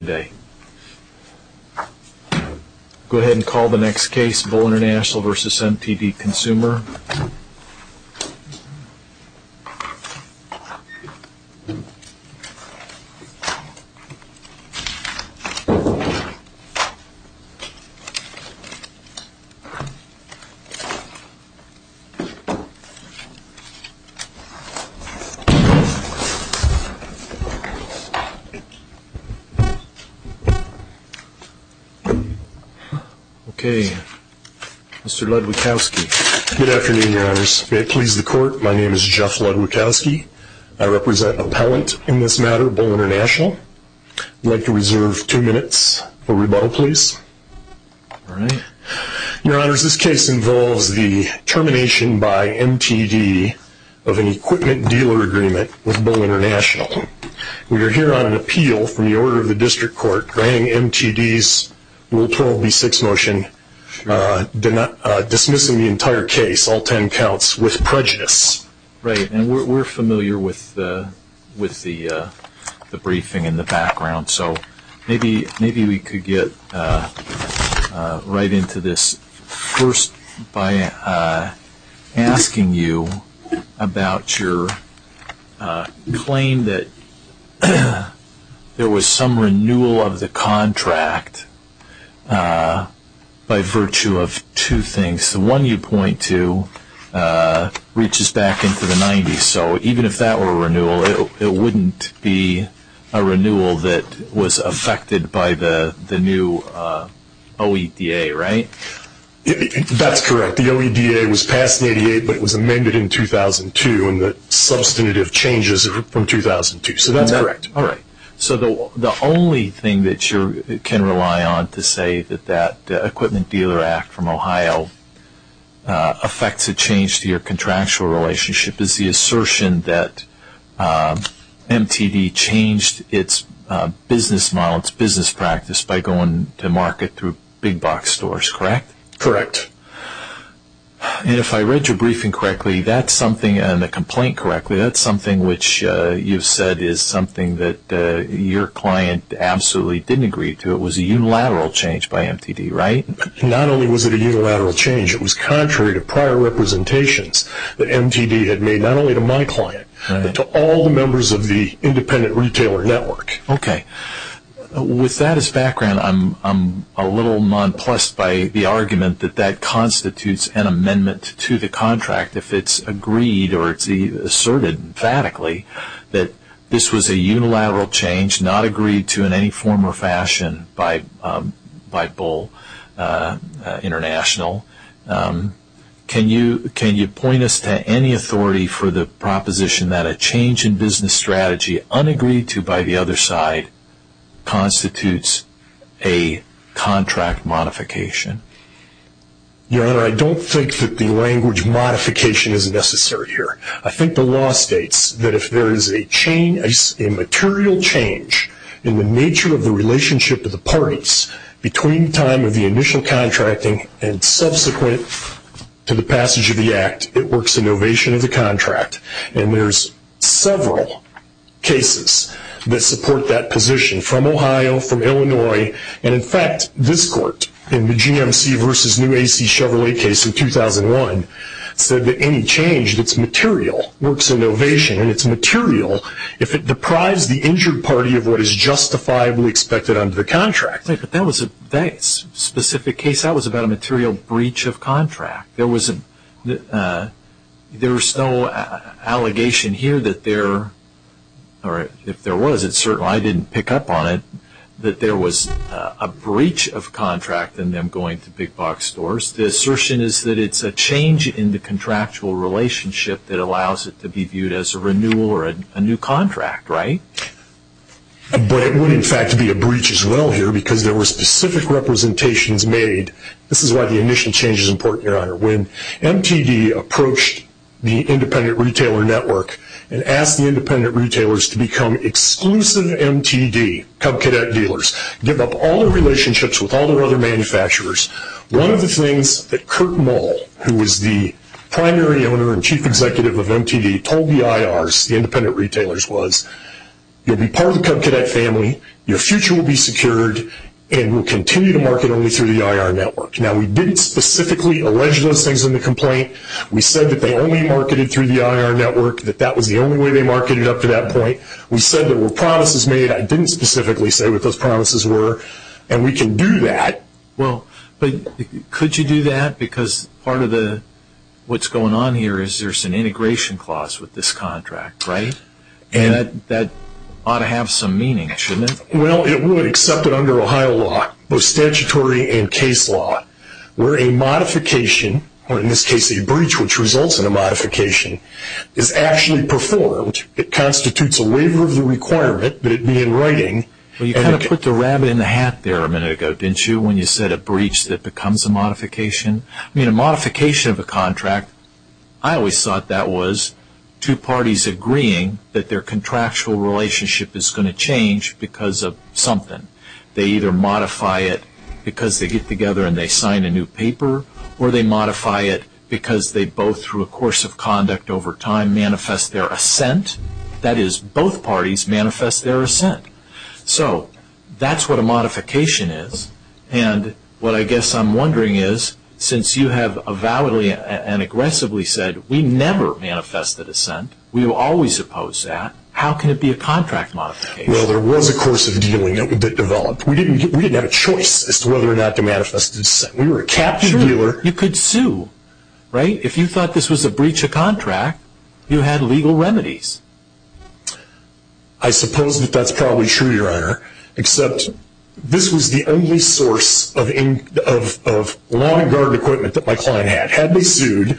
Go ahead and call the next case Bull Intl v. MTD Consumer. Okay, Mr. Ludwikowski. Good afternoon, Your Honors. May it please the Court, my name is Jeff Ludwikowski. I represent appellant in this matter, Bull International. I'd like to reserve two minutes for rebuttal, please. All right. Your Honors, this case involves the termination by MTD of an equipment dealer agreement with Bull International. We are here on an appeal from the Order of the District Court granting MTD's Rule 12b6 motion, dismissing the entire case, all ten counts, with prejudice. Right, and we're familiar with the briefing in the background, so maybe we could get right into this first by asking you about your claim that there was some renewal of the contract by virtue of two things. In this case, the one you point to reaches back into the 90s, so even if that were a renewal, it wouldn't be a renewal that was affected by the new OEDA, right? That's correct. The OEDA was passed in 88, but it was amended in 2002, and the substantive changes are from 2002, so that's correct. All right. So the only thing that you can rely on to say that that Equipment Dealer Act from Ohio affects a change to your contractual relationship is the assertion that MTD changed its business model, its business practice, by going to market through big box stores, correct? Correct. And if I read your briefing correctly and the complaint correctly, that's something which you've said is something that your client absolutely didn't agree to. It was a unilateral change by MTD, right? Not only was it a unilateral change, it was contrary to prior representations that MTD had made, not only to my client, but to all the members of the independent retailer network. Okay. With that as background, I'm a little nonplussed by the argument that that constitutes an amendment to the contract if it's agreed or it's asserted emphatically that this was a unilateral change, not agreed to in any form or fashion by Bull International. Can you point us to any authority for the proposition that a change in business strategy unagreed to by the other side constitutes a contract modification? Your Honor, I don't think that the language modification is necessary here. I think the law states that if there is a material change in the nature of the relationship of the parties between the time of the initial contracting and subsequent to the passage of the act, it works in novation of the contract. And there's several cases that support that position from Ohio, from Illinois, and in fact this court in the GMC versus new AC Chevrolet case in 2001 said that any change that's material works in novation and it's material if it deprives the injured party of what is justifiably expected under the contract. But that was a specific case. That was about a material breach of contract. There was no allegation here that there, or if there was, it's certain I didn't pick up on it, that there was a breach of contract in them going to big box stores. The assertion is that it's a change in the contractual relationship that allows it to be viewed as a renewal or a new contract, right? But it would in fact be a breach as well here because there were specific representations made. This is why the initial change is important, Your Honor. When MTD approached the independent retailer network and asked the independent retailers to become exclusive MTD, Cub Cadet dealers, give up all their relationships with all their other manufacturers, one of the things that Curt Mull, who was the primary owner and chief executive of MTD, told the IRs, the independent retailers, was you'll be part of the Cub Cadet family, your future will be secured, and we'll continue to market only through the IR network. Now, we didn't specifically allege those things in the complaint. We said that they only marketed through the IR network, that that was the only way they marketed up to that point. We said there were promises made. I didn't specifically say what those promises were, and we can do that. Well, but could you do that? Because part of what's going on here is there's an integration clause with this contract, right? And that ought to have some meaning, shouldn't it? Well, it would, except under Ohio law, both statutory and case law, where a modification, or in this case a breach which results in a modification, is actually performed. It constitutes a waiver of the requirement that it be in writing. Well, you kind of put the rabbit in the hat there a minute ago, didn't you, when you said a breach that becomes a modification? I mean, a modification of a contract, I always thought that was two parties agreeing that their contractual relationship is going to change because of something. They either modify it because they get together and they sign a new paper, or they modify it because they both, through a course of conduct over time, manifest their assent. That is, both parties manifest their assent. So that's what a modification is, and what I guess I'm wondering is, since you have avowedly and aggressively said we never manifest the dissent, we will always oppose that, how can it be a contract modification? Well, there was a course of dealing that developed. We didn't have a choice as to whether or not to manifest the dissent. We were a captive dealer. Sure, you could sue, right? If you thought this was a breach of contract, you had legal remedies. I suppose that that's probably true, Your Honor, except this was the only source of law and guard equipment that my client had. Had they sued,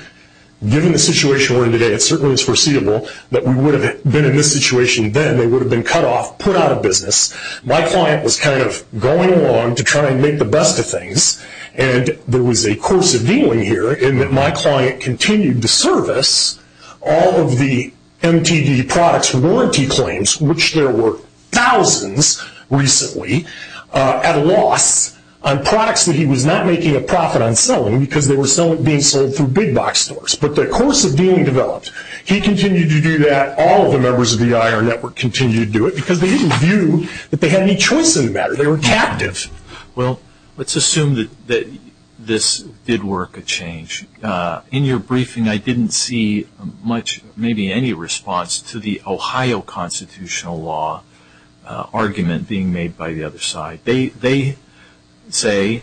given the situation we're in today, it certainly is foreseeable that we would have been in this situation then. They would have been cut off, put out of business. My client was kind of going along to try and make the best of things, and there was a course of dealing here in that my client continued to service all of the MTD products warranty claims, which there were thousands recently, at a loss on products that he was not making a profit on selling because they were being sold through big box stores. But the course of dealing developed. He continued to do that. All of the members of the IR network continued to do it because they didn't view that they had any choice in the matter. They were captive. Well, let's assume that this did work a change. In your briefing, I didn't see much, maybe any response to the Ohio constitutional law argument being made by the other side. They say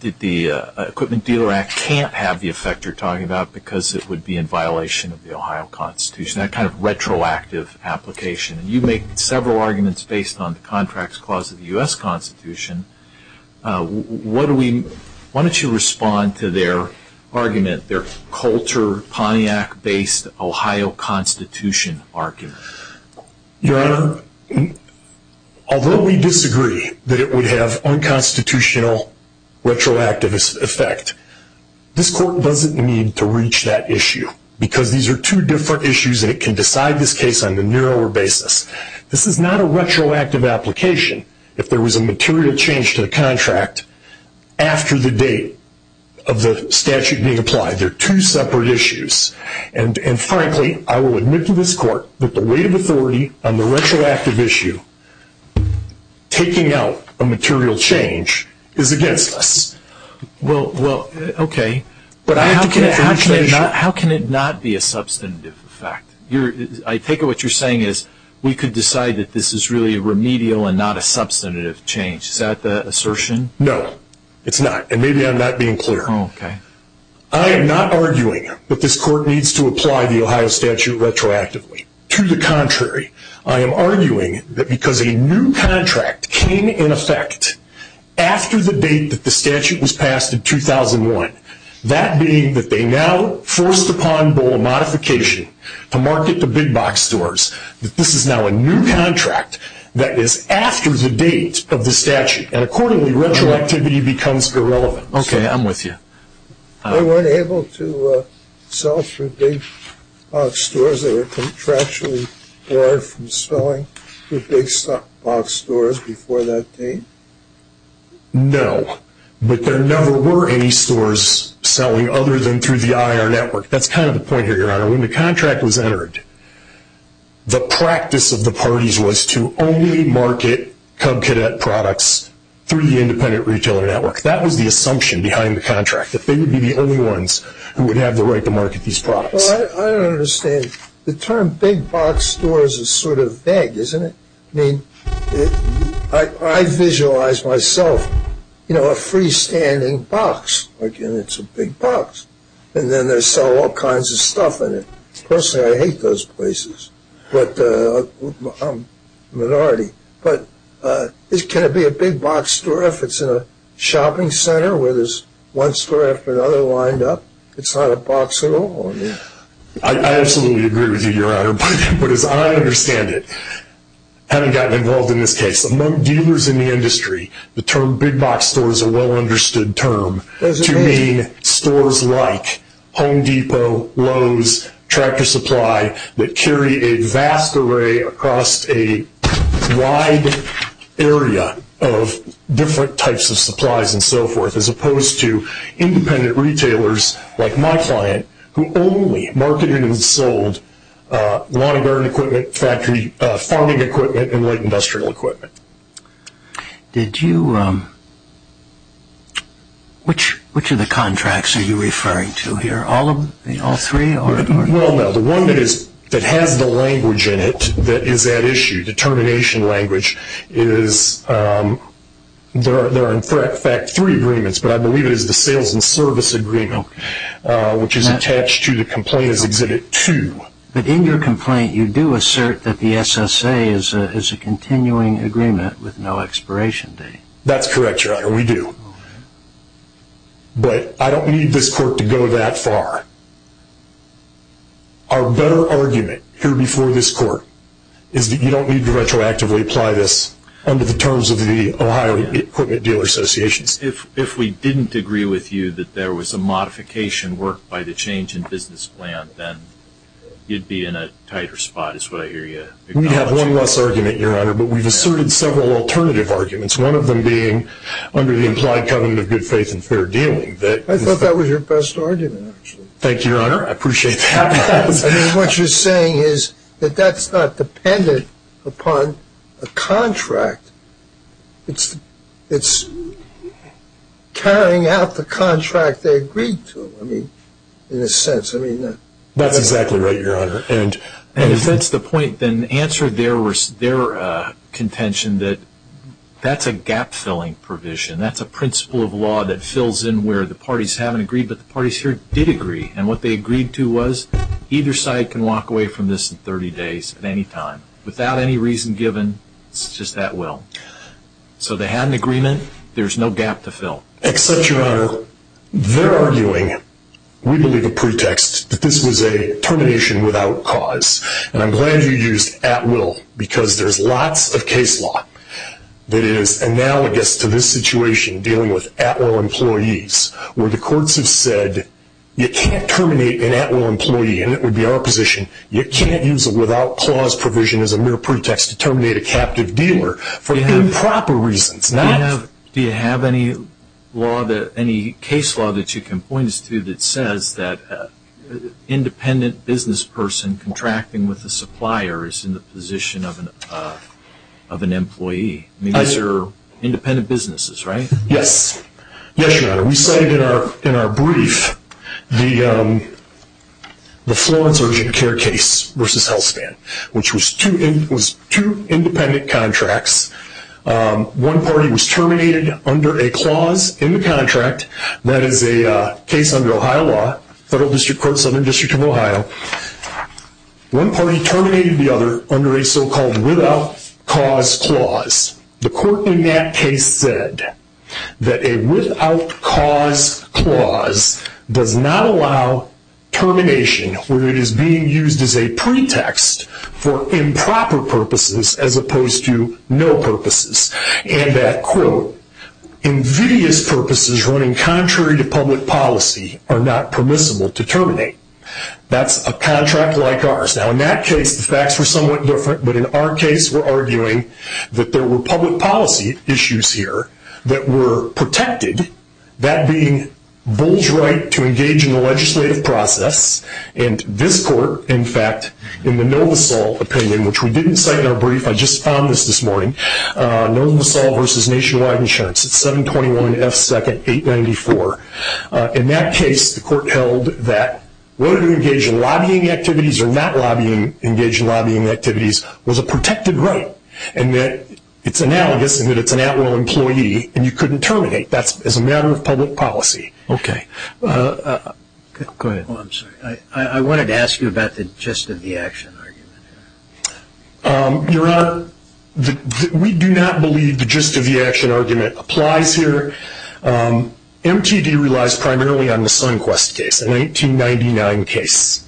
that the Equipment Dealer Act can't have the effect you're talking about because it would be in violation of the Ohio Constitution, that kind of retroactive application. You make several arguments based on the Contracts Clause of the U.S. Constitution. Why don't you respond to their argument, their Coulter-Pontiac-based Ohio Constitution argument? Your Honor, although we disagree that it would have unconstitutional retroactive effect, this court doesn't need to reach that issue because these are two different issues and it can decide this case on a narrower basis. This is not a retroactive application if there was a material change to the contract after the date of the statute being applied. They're two separate issues. And frankly, I will admit to this court that the weight of authority on the retroactive issue taking out a material change is against us. Well, okay, but how can it not be a substantive effect? I take it what you're saying is we could decide that this is really a remedial and not a substantive change. Is that the assertion? No, it's not. And maybe I'm not being clear. I am not arguing that this court needs to apply the Ohio statute retroactively. To the contrary, I am arguing that because a new contract came in effect after the date that the statute was passed in 2001, that being that they now forced upon Boal Modification to market to big box stores, that this is now a new contract that is after the date of the statute. And accordingly, retroactivity becomes irrelevant. Okay, I'm with you. They weren't able to sell through big box stores. They were contractually barred from selling through big box stores before that date? No, but there never were any stores selling other than through the IR network. That's kind of the point here, Your Honor. When the contract was entered, the practice of the parties was to only market Cub Cadet products through the independent retailer network. That was the assumption behind the contract, that they would be the only ones who would have the right to market these products. Well, I don't understand. The term big box stores is sort of vague, isn't it? I mean, I visualize myself, you know, a freestanding box, like it's a big box. And then they sell all kinds of stuff in it. Personally, I hate those places, but I'm a minority. But can it be a big box store if it's in a shopping center where there's one store after another lined up? It's not a box at all. I absolutely agree with you, Your Honor. But as I understand it, having gotten involved in this case, among dealers in the industry, the term big box store is a well-understood term to mean stores like Home Depot, Lowe's, Tractor Supply, that carry a vast array across a wide area of different types of supplies and so forth, as opposed to independent retailers like my client, who only marketed and sold lawn and garden equipment, farming equipment, and light industrial equipment. Which of the contracts are you referring to here? All three? Well, no. The one that has the language in it that is at issue, the termination language, there are in fact three agreements, but I believe it is the sales and service agreement, which is attached to the complaint as Exhibit 2. But in your complaint, you do assert that the SSA is a continuing agreement with no expiration date. That's correct, Your Honor, we do. But I don't need this court to go that far. Our better argument here before this court is that you don't need to retroactively apply this under the terms of the Ohio Equipment Dealer Association. If we didn't agree with you that there was a modification worked by the change in business plan, then you'd be in a tighter spot is what I hear you acknowledging. We have one less argument, Your Honor, but we've asserted several alternative arguments, one of them being under the implied covenant of good faith and fair dealing. I thought that was your best argument, actually. Thank you, Your Honor. I appreciate that. What you're saying is that that's not dependent upon a contract. It's carrying out the contract they agreed to, I mean, in a sense. That's exactly right, Your Honor. If that's the point, then answer their contention that that's a gap-filling provision. That's a principle of law that fills in where the parties haven't agreed, but the parties here did agree. And what they agreed to was either side can walk away from this in 30 days at any time, without any reason given. It's just at will. So they had an agreement. There's no gap to fill. Except, Your Honor, they're arguing, we believe, a pretext that this was a termination without cause. And I'm glad you used at will, because there's lots of case law that is analogous to this situation, dealing with at will employees, where the courts have said, you can't terminate an at will employee, and it would be our position, you can't use a without cause provision as a mere pretext to terminate a captive dealer for improper reasons. Do you have any case law that you can point us to that says that an independent business person contracting with a supplier is in the position of an employee? These are independent businesses, right? Yes. Yes, Your Honor. We cited in our brief the Florence urgent care case versus HealthSpan, which was two independent contracts. One party was terminated under a clause in the contract. That is a case under Ohio law, Federal District Court, Southern District of Ohio. One party terminated the other under a so-called without cause clause. The court in that case said that a without cause clause does not allow termination when it is being used as a pretext for improper purposes as opposed to no purposes, and that, quote, invidious purposes running contrary to public policy are not permissible to terminate. That's a contract like ours. Now, in that case, the facts were somewhat different, but in our case we're arguing that there were public policy issues here that were protected, that being Bull's right to engage in the legislative process, and this court, in fact, in the NovoSol opinion, which we didn't cite in our brief, I just found this this morning, NovoSol versus Nationwide Insurance. It's 721F2nd894. In that case, the court held that whether to engage in lobbying activities or not engage in lobbying activities was a protected right, and that it's analogous in that it's an at-will employee and you couldn't terminate. That's as a matter of public policy. Okay. Go ahead. Oh, I'm sorry. I wanted to ask you about the gist of the action argument. Your Honor, we do not believe the gist of the action argument applies here. MTD relies primarily on the SunQuest case, an 1899 case.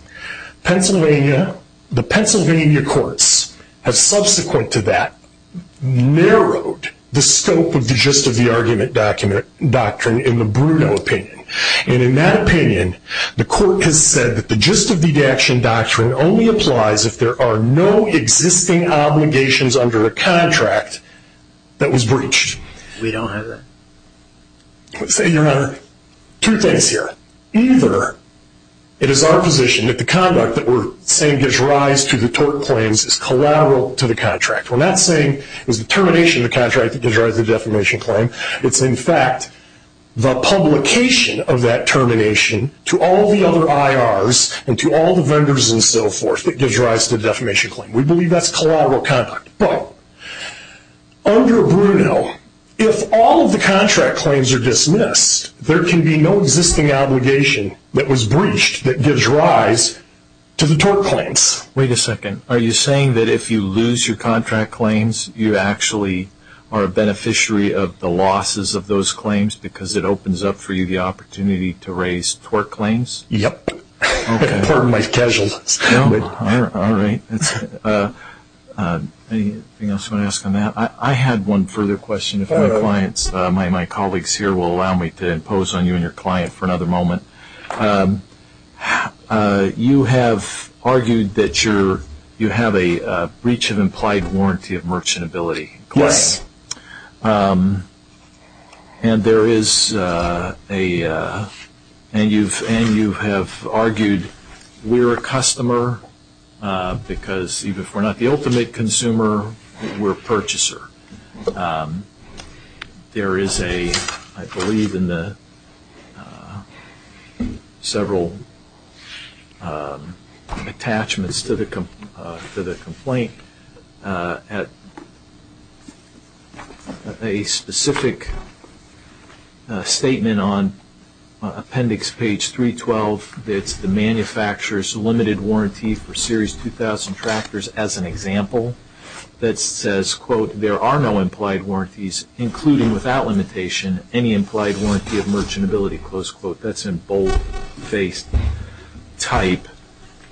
Pennsylvania, the Pennsylvania courts have subsequent to that, narrowed the scope of the gist of the argument doctrine in the Bruno opinion, and in that opinion, the court has said that the gist of the action doctrine only applies if there are no existing obligations under a contract that was breached. We don't have that. Your Honor, two things here. Either it is our position that the conduct that we're saying gives rise to the tort claims is collateral to the contract. We're not saying it's the termination of the contract that gives rise to the defamation claim. It's, in fact, the publication of that termination to all the other IRs and to all the vendors and so forth that gives rise to the defamation claim. We believe that's collateral conduct. But under Bruno, if all of the contract claims are dismissed, there can be no existing obligation that was breached that gives rise to the tort claims. Wait a second. Are you saying that if you lose your contract claims, you actually are a beneficiary of the losses of those claims because it opens up for you the opportunity to raise tort claims? Yes. It's part of my schedule. All right. Anything else you want to ask on that? I had one further question. My colleagues here will allow me to impose on you and your client for another moment. You have argued that you have a breach of implied warranty of merchantability. Yes. And you have argued we're a customer because if we're not the ultimate consumer, we're a purchaser. There is, I believe, several attachments to the complaint. A specific statement on appendix page 312, it's the manufacturer's limited warranty for Series 2000 tractors as an example, that says, quote, there are no implied warranties, including without limitation, any implied warranty of merchantability, close quote. That's in bold-faced type.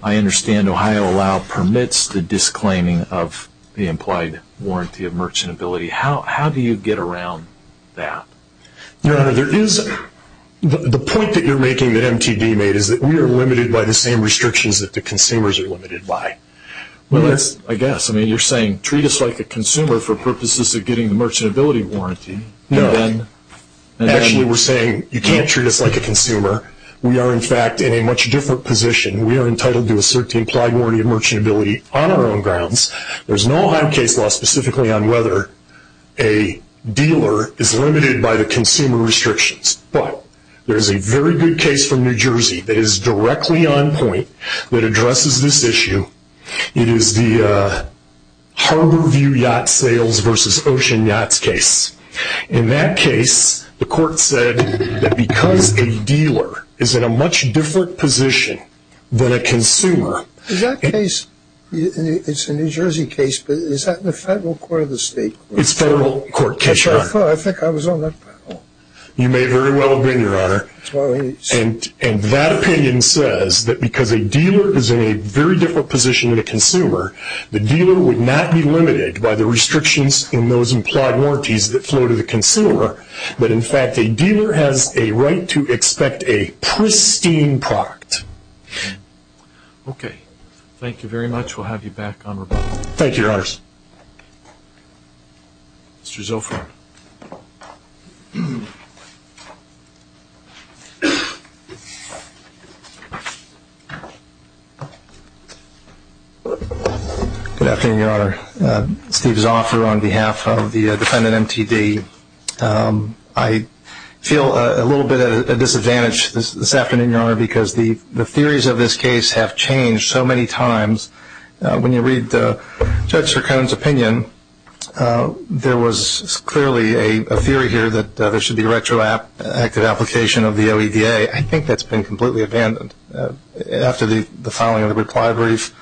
I understand Ohio Allow permits the disclaiming of the implied warranty of merchantability. How do you get around that? Your Honor, the point that you're making that MTD made is that we are limited by the same restrictions that the consumers are limited by. I guess. I mean, you're saying treat us like a consumer for purposes of getting the merchantability warranty. No. Actually, we're saying you can't treat us like a consumer. We are, in fact, in a much different position. We are entitled to a certain implied warranty of merchantability on our own grounds. There's no Ohio case law specifically on whether a dealer is limited by the consumer restrictions. But there's a very good case from New Jersey that is directly on point that addresses this issue. It is the Harborview Yacht Sales versus Ocean Yachts case. In that case, the court said that because a dealer is in a much different position than a consumer. Is that case, it's a New Jersey case, but is that in the federal court or the state court? It's federal court, Your Honor. Which I thought, I think I was on that panel. You may very well have been, Your Honor. And that opinion says that because a dealer is in a very different position than a consumer, the dealer would not be limited by the restrictions in those implied warranties that flow to the consumer. But, in fact, a dealer has a right to expect a pristine product. Okay. Thank you very much. We'll have you back on rebuttal. Thank you, Your Honors. Mr. Zilfran. Good afternoon, Your Honor. Steve Zilfran on behalf of the defendant, M.T.D. I feel a little bit of a disadvantage this afternoon, Your Honor, because the theories of this case have changed so many times. When you read Judge Sircone's opinion, there was clearly a theory here that there should be retroactive application of the OEDA. I think that's been completely abandoned after the filing of the reply brief.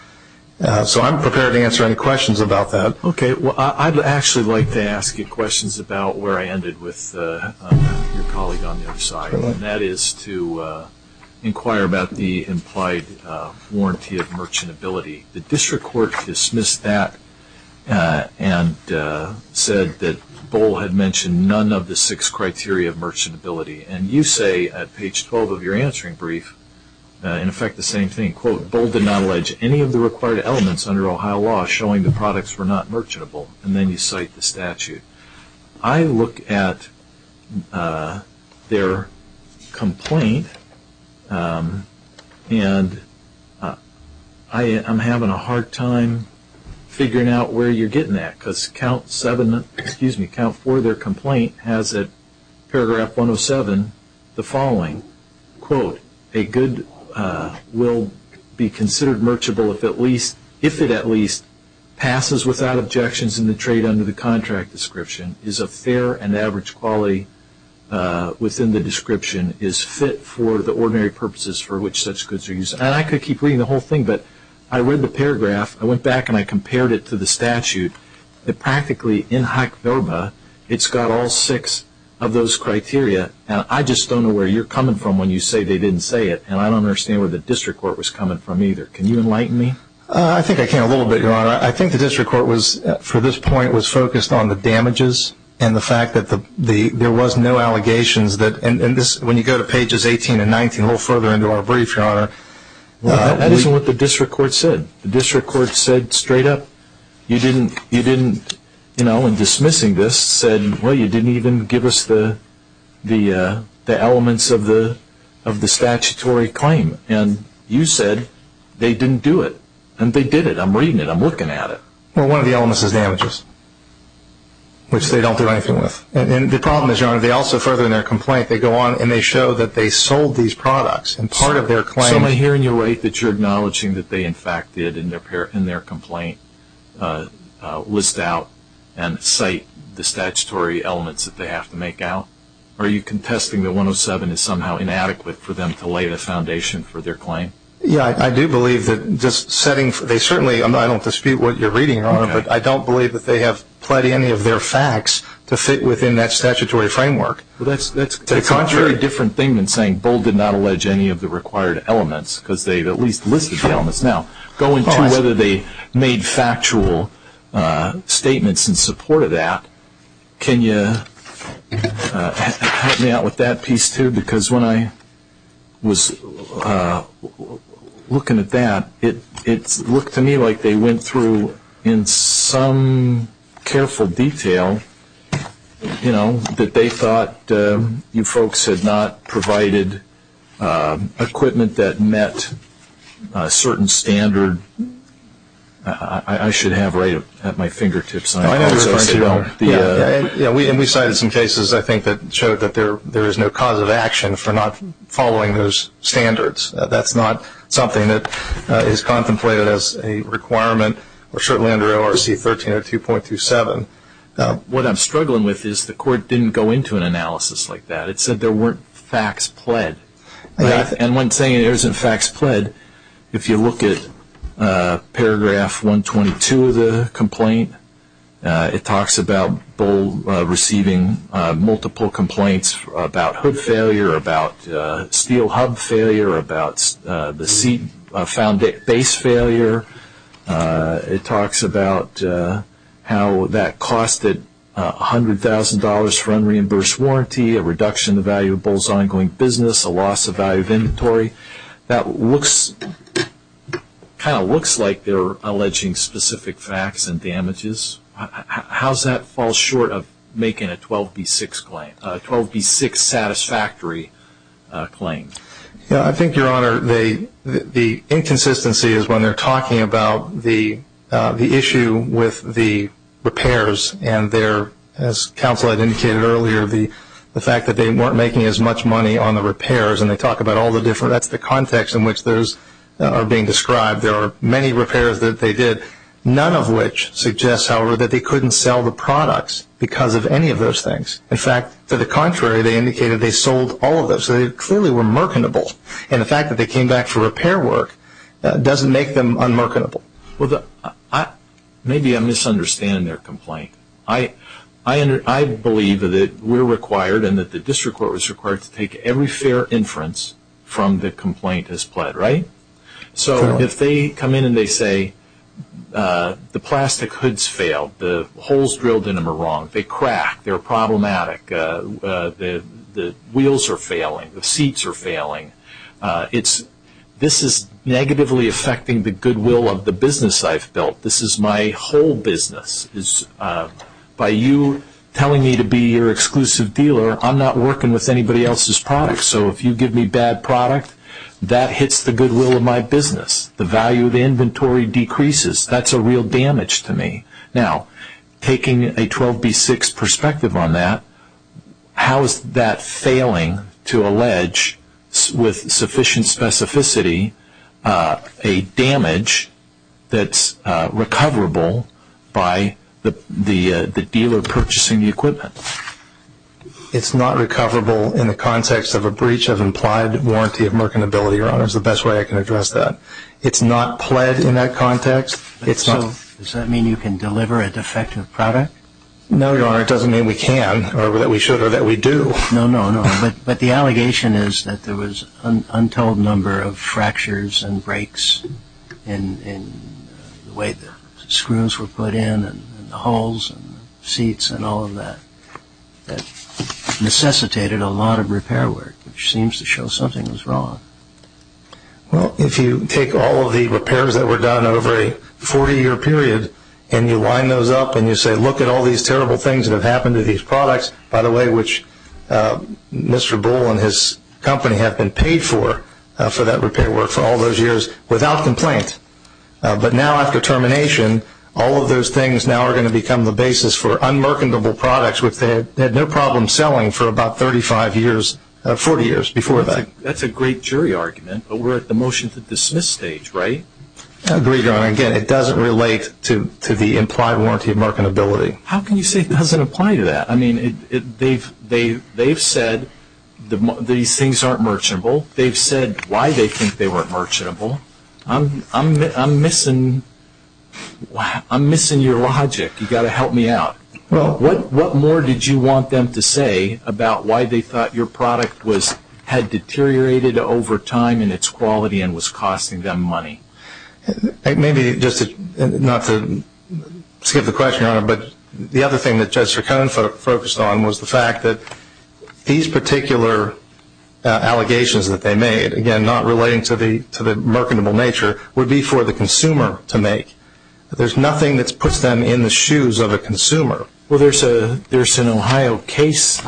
So I'm prepared to answer any questions about that. Okay. Well, I'd actually like to ask you questions about where I ended with your colleague on the other side, and that is to inquire about the implied warranty of merchantability. The district court dismissed that and said that Bohl had mentioned none of the six criteria of merchantability. And you say at page 12 of your answering brief, in effect, the same thing. Quote, Bohl did not allege any of the required elements under Ohio law showing the products were not merchantable. And then you cite the statute. I look at their complaint, and I'm having a hard time figuring out where you're getting at, because count four of their complaint has at paragraph 107 the following. Quote, a good will be considered merchantable if it at least passes without objections in the trade under the contract description, is of fair and average quality within the description, is fit for the ordinary purposes for which such goods are used. And I could keep reading the whole thing, but I read the paragraph. I went back, and I compared it to the statute. Practically, in HACBORBA, it's got all six of those criteria. I just don't know where you're coming from when you say they didn't say it, and I don't understand where the district court was coming from either. Can you enlighten me? I think I can a little bit, Your Honor. I think the district court was, for this point, was focused on the damages and the fact that there was no allegations. And when you go to pages 18 and 19, a little further into our brief, Your Honor. That isn't what the district court said. The district court said straight up, you didn't, you know, in dismissing this, said, well, you didn't even give us the elements of the statutory claim. And you said they didn't do it. And they did it. I'm reading it. I'm looking at it. Well, one of the elements is damages, which they don't do anything with. And the problem is, Your Honor, they also further in their complaint, they go on and they show that they sold these products, and part of their claim. So am I hearing you right that you're acknowledging that they, in fact, did, in their complaint, list out and cite the statutory elements that they have to make out? Or are you contesting that 107 is somehow inadequate for them to lay the foundation for their claim? Yeah, I do believe that just setting, they certainly, I don't dispute what you're reading, Your Honor, but I don't believe that they have pled any of their facts to fit within that statutory framework. Well, that's a very different thing than saying Bold did not allege any of the required elements because they at least listed the elements. Now, going to whether they made factual statements in support of that, can you help me out with that piece too? Because when I was looking at that, it looked to me like they went through in some careful detail, you know, that they thought you folks had not provided equipment that met a certain standard. I should have right at my fingertips. Yeah, and we cited some cases, I think, that showed that there is no cause of action for not following those standards. That's not something that is contemplated as a requirement or certainly under ORC 1302.27. What I'm struggling with is the court didn't go into an analysis like that. It said there weren't facts pled. And when saying there isn't facts pled, if you look at paragraph 122 of the complaint, it talks about Bold receiving multiple complaints about hood failure, about steel hub failure, about the base failure. It talks about how that costed $100,000 for unreimbursed warranty, a reduction in the value of Bulls ongoing business, a loss of value of inventory. That kind of looks like they're alleging specific facts and damages. How does that fall short of making a 12B6 satisfactory claim? I think, Your Honor, the inconsistency is when they're talking about the issue with the repairs and their, as counsel had indicated earlier, the fact that they weren't making as much money on the repairs. And they talk about all the different – that's the context in which those are being described. There are many repairs that they did, none of which suggests, however, that they couldn't sell the products because of any of those things. In fact, to the contrary, they indicated they sold all of those. So they clearly were mercantile. And the fact that they came back for repair work doesn't make them unmercantile. Well, maybe I'm misunderstanding their complaint. I believe that we're required and that the district court was required to take every fair inference from the complaint as pled, right? So if they come in and they say the plastic hood's failed, the holes drilled in them are wrong, they crack, they're problematic, the wheels are failing, the seats are failing, this is negatively affecting the goodwill of the business I've built. This is my whole business. By you telling me to be your exclusive dealer, I'm not working with anybody else's product. So if you give me bad product, that hits the goodwill of my business. The value of the inventory decreases. That's a real damage to me. Now, taking a 12B6 perspective on that, how is that failing to allege with sufficient specificity a damage that's recoverable by the dealer purchasing the equipment? It's not recoverable in the context of a breach of implied warranty of mercantility, Your Honor, is the best way I can address that. It's not pled in that context. Does that mean you can deliver a defective product? No, Your Honor, it doesn't mean we can or that we should or that we do. No, no, no. But the allegation is that there was untold number of fractures and breaks in the way the screws were put in and the holes and the seats and all of that that necessitated a lot of repair work, which seems to show something was wrong. Well, if you take all of the repairs that were done over a 40-year period and you line those up and you say, look at all these terrible things that have happened to these products, by the way, which Mr. Bull and his company have been paid for, for that repair work for all those years without complaint. But now after termination, all of those things now are going to become the basis for unmercantable products, which they had no problem selling for about 35 years, 40 years before that. That's a great jury argument, but we're at the motion to dismiss stage, right? I agree, Your Honor. Again, it doesn't relate to the implied warranty of marketability. How can you say it doesn't apply to that? I mean, they've said these things aren't merchantable. They've said why they think they weren't merchantable. I'm missing your logic. You've got to help me out. Well, what more did you want them to say about why they thought your product had deteriorated over time in its quality and was costing them money? Maybe just not to skip the question, Your Honor, but the other thing that Judge Sircone focused on was the fact that these particular allegations that they made, again, not relating to the mercantable nature, would be for the consumer to make. There's nothing that puts them in the shoes of a consumer. Well, there's an Ohio case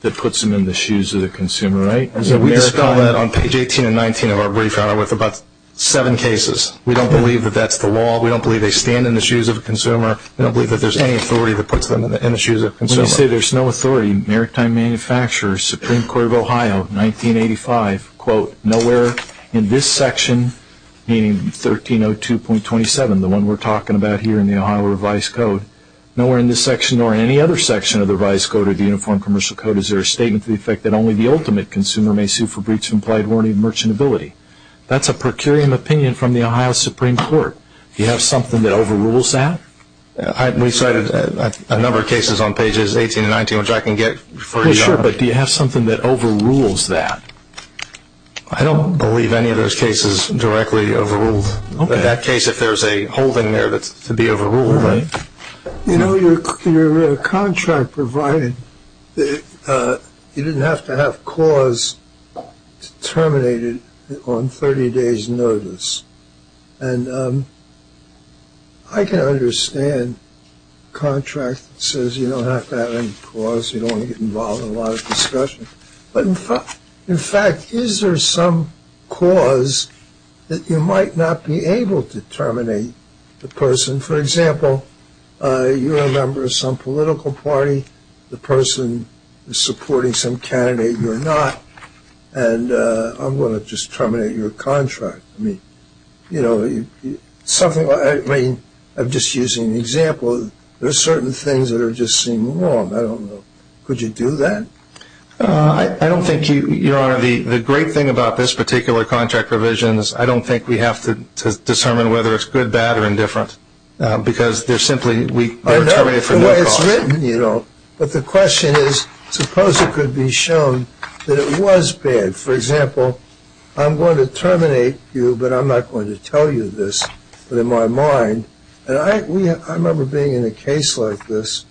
that puts them in the shoes of the consumer, right? We just found that on page 18 and 19 of our brief, Your Honor, with about seven cases. We don't believe that that's the law. We don't believe they stand in the shoes of a consumer. We don't believe that there's any authority that puts them in the shoes of a consumer. When you say there's no authority, Maritime Manufacturers, Supreme Court of Ohio, 1985, quote, nowhere in this section, meaning 1302.27, the one we're talking about here in the Ohio Revised Code, nowhere in this section or any other section of the Revised Code or the Uniform Commercial Code is there a statement to the effect that only the ultimate consumer may sue for breach of implied warranty of merchantability. That's a per curiam opinion from the Ohio Supreme Court. Do you have something that overrules that? We cited a number of cases on pages 18 and 19, which I can get for you, Your Honor. But do you have something that overrules that? I don't believe any of those cases directly overrule. In that case, if there's a holding there, that's to be overruled. You know, your contract provided that you didn't have to have cause terminated on 30 days notice. And I can understand a contract that says you don't have to have any cause, you don't want to get involved in a lot of discussion. But, in fact, is there some cause that you might not be able to terminate the person? For example, you're a member of some political party, the person is supporting some candidate you're not, and I'm going to just terminate your contract. I mean, you know, something like, I mean, I'm just using an example. There are certain things that just seem wrong. I don't know. Could you do that? I don't think you, Your Honor. The great thing about this particular contract provision is I don't think we have to determine whether it's good, bad, or indifferent because they're simply terminated for no cause. I know. It's written, you know. But the question is, suppose it could be shown that it was bad. For example, I'm going to terminate you, but I'm not going to tell you this. But in my mind, and I remember being in a case like this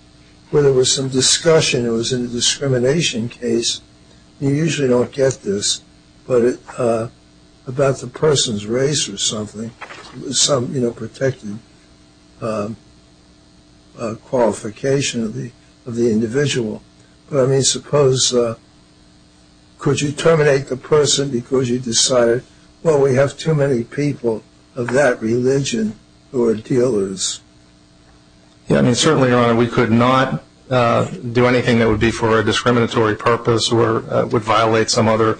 where there was some discussion. It was in a discrimination case. You usually don't get this, but about the person's race or something, some, you know, protected qualification of the individual. But, I mean, suppose could you terminate the person because you decided, well, we have too many people of that religion who are dealers. Yeah, I mean, certainly, Your Honor, we could not do anything that would be for a discriminatory purpose or would violate some other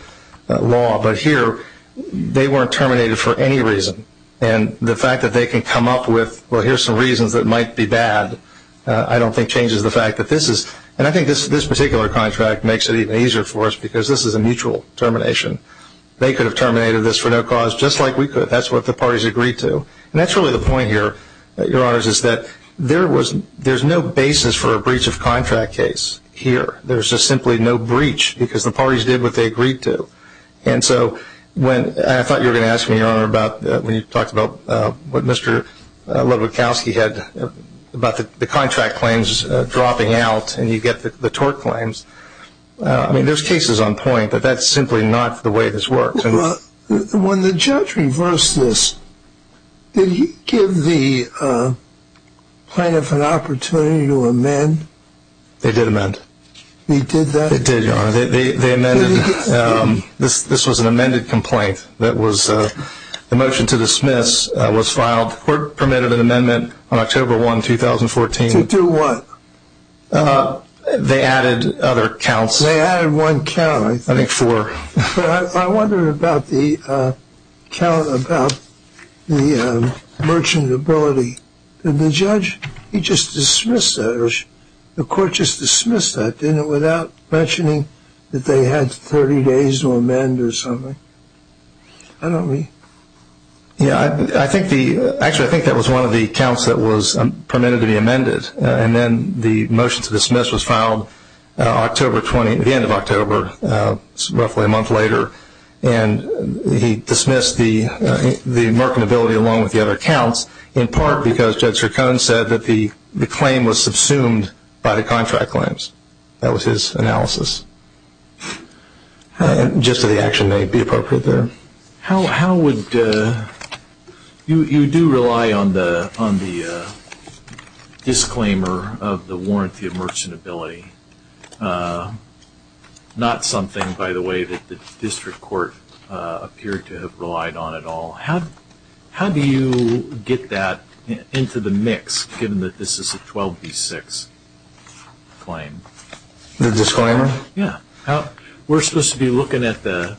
law. But here they weren't terminated for any reason. And the fact that they can come up with, well, here's some reasons that might be bad, I don't think changes the fact that this is. And I think this particular contract makes it even easier for us because this is a mutual termination. They could have terminated this for no cause, just like we could. That's what the parties agreed to. And that's really the point here, Your Honors, is that there's no basis for a breach of contract case here. There's just simply no breach because the parties did what they agreed to. And so I thought you were going to ask me, Your Honor, about when you talked about what Mr. Ludwikowski had about the contract claims dropping out and you get the tort claims. I mean, there's cases on point, but that's simply not the way this works. When the judge reversed this, did he give the plaintiff an opportunity to amend? They did amend. They did that? They did, Your Honor. They amended. This was an amended complaint. The motion to dismiss was filed. The court permitted an amendment on October 1, 2014. To do what? They added other counts. They added one count, I think. I think four. I wonder about the count about the merchantability. Did the judge just dismiss that? Or did the court just dismiss that, didn't it, without mentioning that they had 30 days to amend or something? I don't know. Actually, I think that was one of the counts that was permitted to be amended. And then the motion to dismiss was filed at the end of October, roughly a month later, and he dismissed the merchantability along with the other counts, in part because Judge Stracone said that the claim was subsumed by the contract claims. That was his analysis. Just that the action may be appropriate there. You do rely on the disclaimer of the warranty of merchantability, not something, by the way, that the district court appeared to have relied on at all. How do you get that into the mix, given that this is a 12B6 claim? The disclaimer? Yeah. We're supposed to be looking at the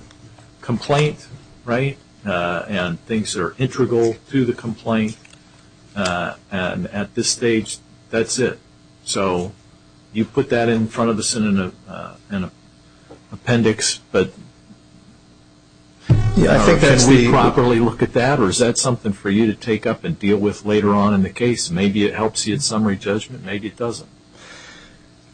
complaint, right, and things that are integral to the complaint. And at this stage, that's it. So you put that in front of us in an appendix, but can we properly look at that? Or is that something for you to take up and deal with later on in the case? Maybe it helps you in summary judgment. Maybe it doesn't.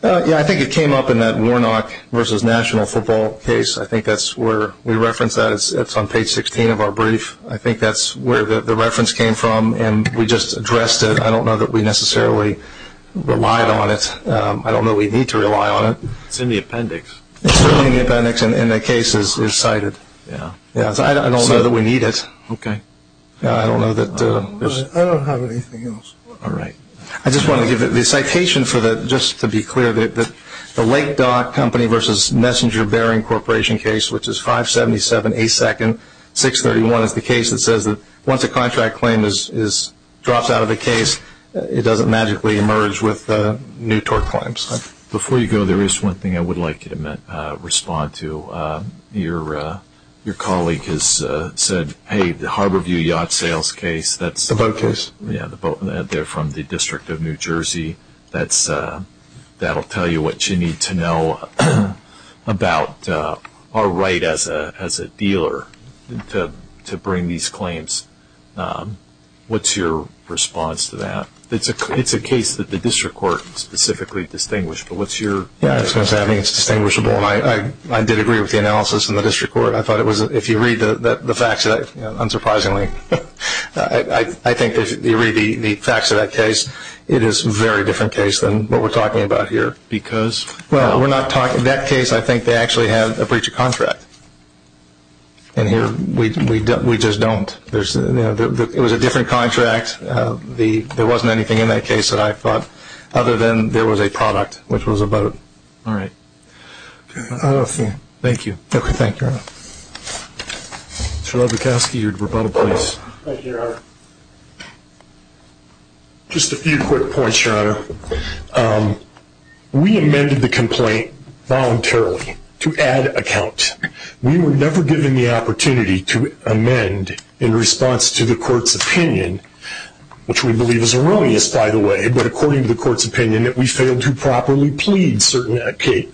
Yeah, I think it came up in that Warnock v. National Football case. I think that's where we referenced that. It's on page 16 of our brief. I think that's where the reference came from, and we just addressed it. I don't know that we necessarily relied on it. I don't know we need to rely on it. It's in the appendix. It's in the appendix, and the case is cited. I don't know that we need it. Okay. I don't have anything else. All right. I just wanted to give the citation just to be clear. The Lake Dock Company v. Messenger Bering Corporation case, which is 577A2nd631, is the case that says that once a contract claim drops out of the case, it doesn't magically emerge with new tort claims. Before you go, there is one thing I would like you to respond to. Your colleague has said, hey, the Harborview Yacht Sales case. The boat case. They're from the District of New Jersey. That will tell you what you need to know about our right as a dealer to bring these claims. What's your response to that? It's a case that the district court specifically distinguished, but what's your response? I think it's distinguishable. I did agree with the analysis in the district court. If you read the facts, unsurprisingly, I think if you read the facts of that case, it is a very different case than what we're talking about here. Because? In that case, I think they actually have a breach of contract. And here we just don't. It was a different contract. There wasn't anything in that case that I thought, other than there was a product, which was a boat. All right. Thank you. Okay. Thank you, Your Honor. Mr. Levikowski, your rebuttal, please. Thank you, Your Honor. Just a few quick points, Your Honor. We amended the complaint voluntarily to add a count. We were never given the opportunity to amend in response to the court's opinion, which we believe is erroneous, by the way, but according to the court's opinion that we failed to properly plead certain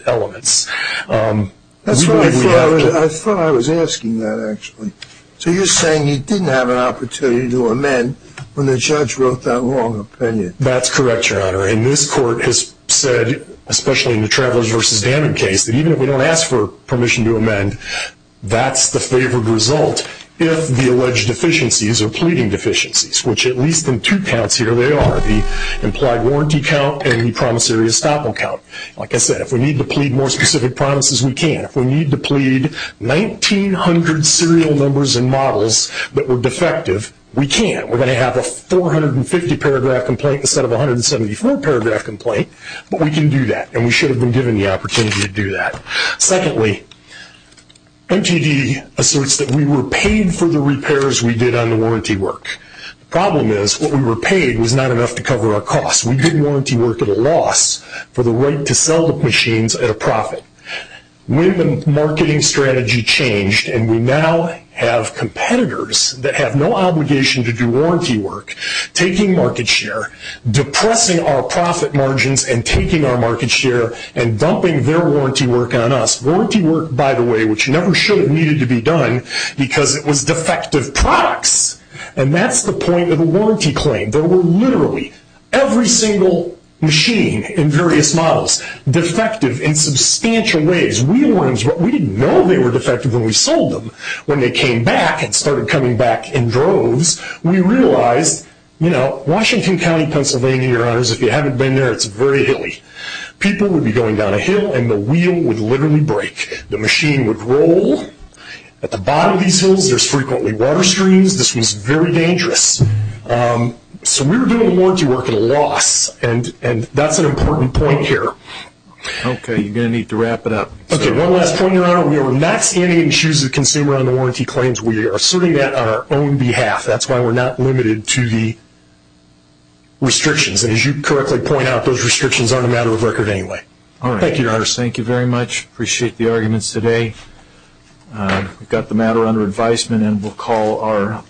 elements. That's right. I thought I was asking that, actually. So you're saying you didn't have an opportunity to amend when the judge wrote that long opinion. That's correct, Your Honor. And this court has said, especially in the Travelers v. Dammit case, that even if we don't ask for permission to amend, that's the favored result if the alleged deficiencies are pleading deficiencies, which at least in two counts here they are, the implied warranty count and the promissory estoppel count. Like I said, if we need to plead more specific promises, we can. If we need to plead 1,900 serial numbers and models that were defective, we can. We're going to have a 450-paragraph complaint instead of a 174-paragraph complaint, but we can do that, and we should have been given the opportunity to do that. Secondly, MTD asserts that we were paid for the repairs we did on the warranty work. The problem is what we were paid was not enough to cover our costs. We did warranty work at a loss for the right to sell the machines at a profit. When the marketing strategy changed and we now have competitors that have no obligation to do warranty work, taking market share, depressing our profit margins and taking our market share and dumping their warranty work on us. Warranty work, by the way, which never should have needed to be done because it was defective products. And that's the point of the warranty claim. There were literally every single machine in various models defective in substantial ways. We didn't know they were defective when we sold them. When they came back and started coming back in droves, we realized, you know, Washington County, Pennsylvania, your honors, if you haven't been there, it's very hilly. People would be going down a hill and the wheel would literally break. The machine would roll. At the bottom of these hills, there's frequently water streams. This was very dangerous. So we were doing the warranty work at a loss, and that's an important point here. Okay, you're going to need to wrap it up. Okay, one last point, your honor. We are not standing in the shoes of the consumer on the warranty claims. We are asserting that on our own behalf. That's why we're not limited to the restrictions. And as you correctly point out, those restrictions aren't a matter of record anyway. All right. Thank you, your honors. Thank you very much. Appreciate the arguments today. We've got the matter under advisement, and we'll call our.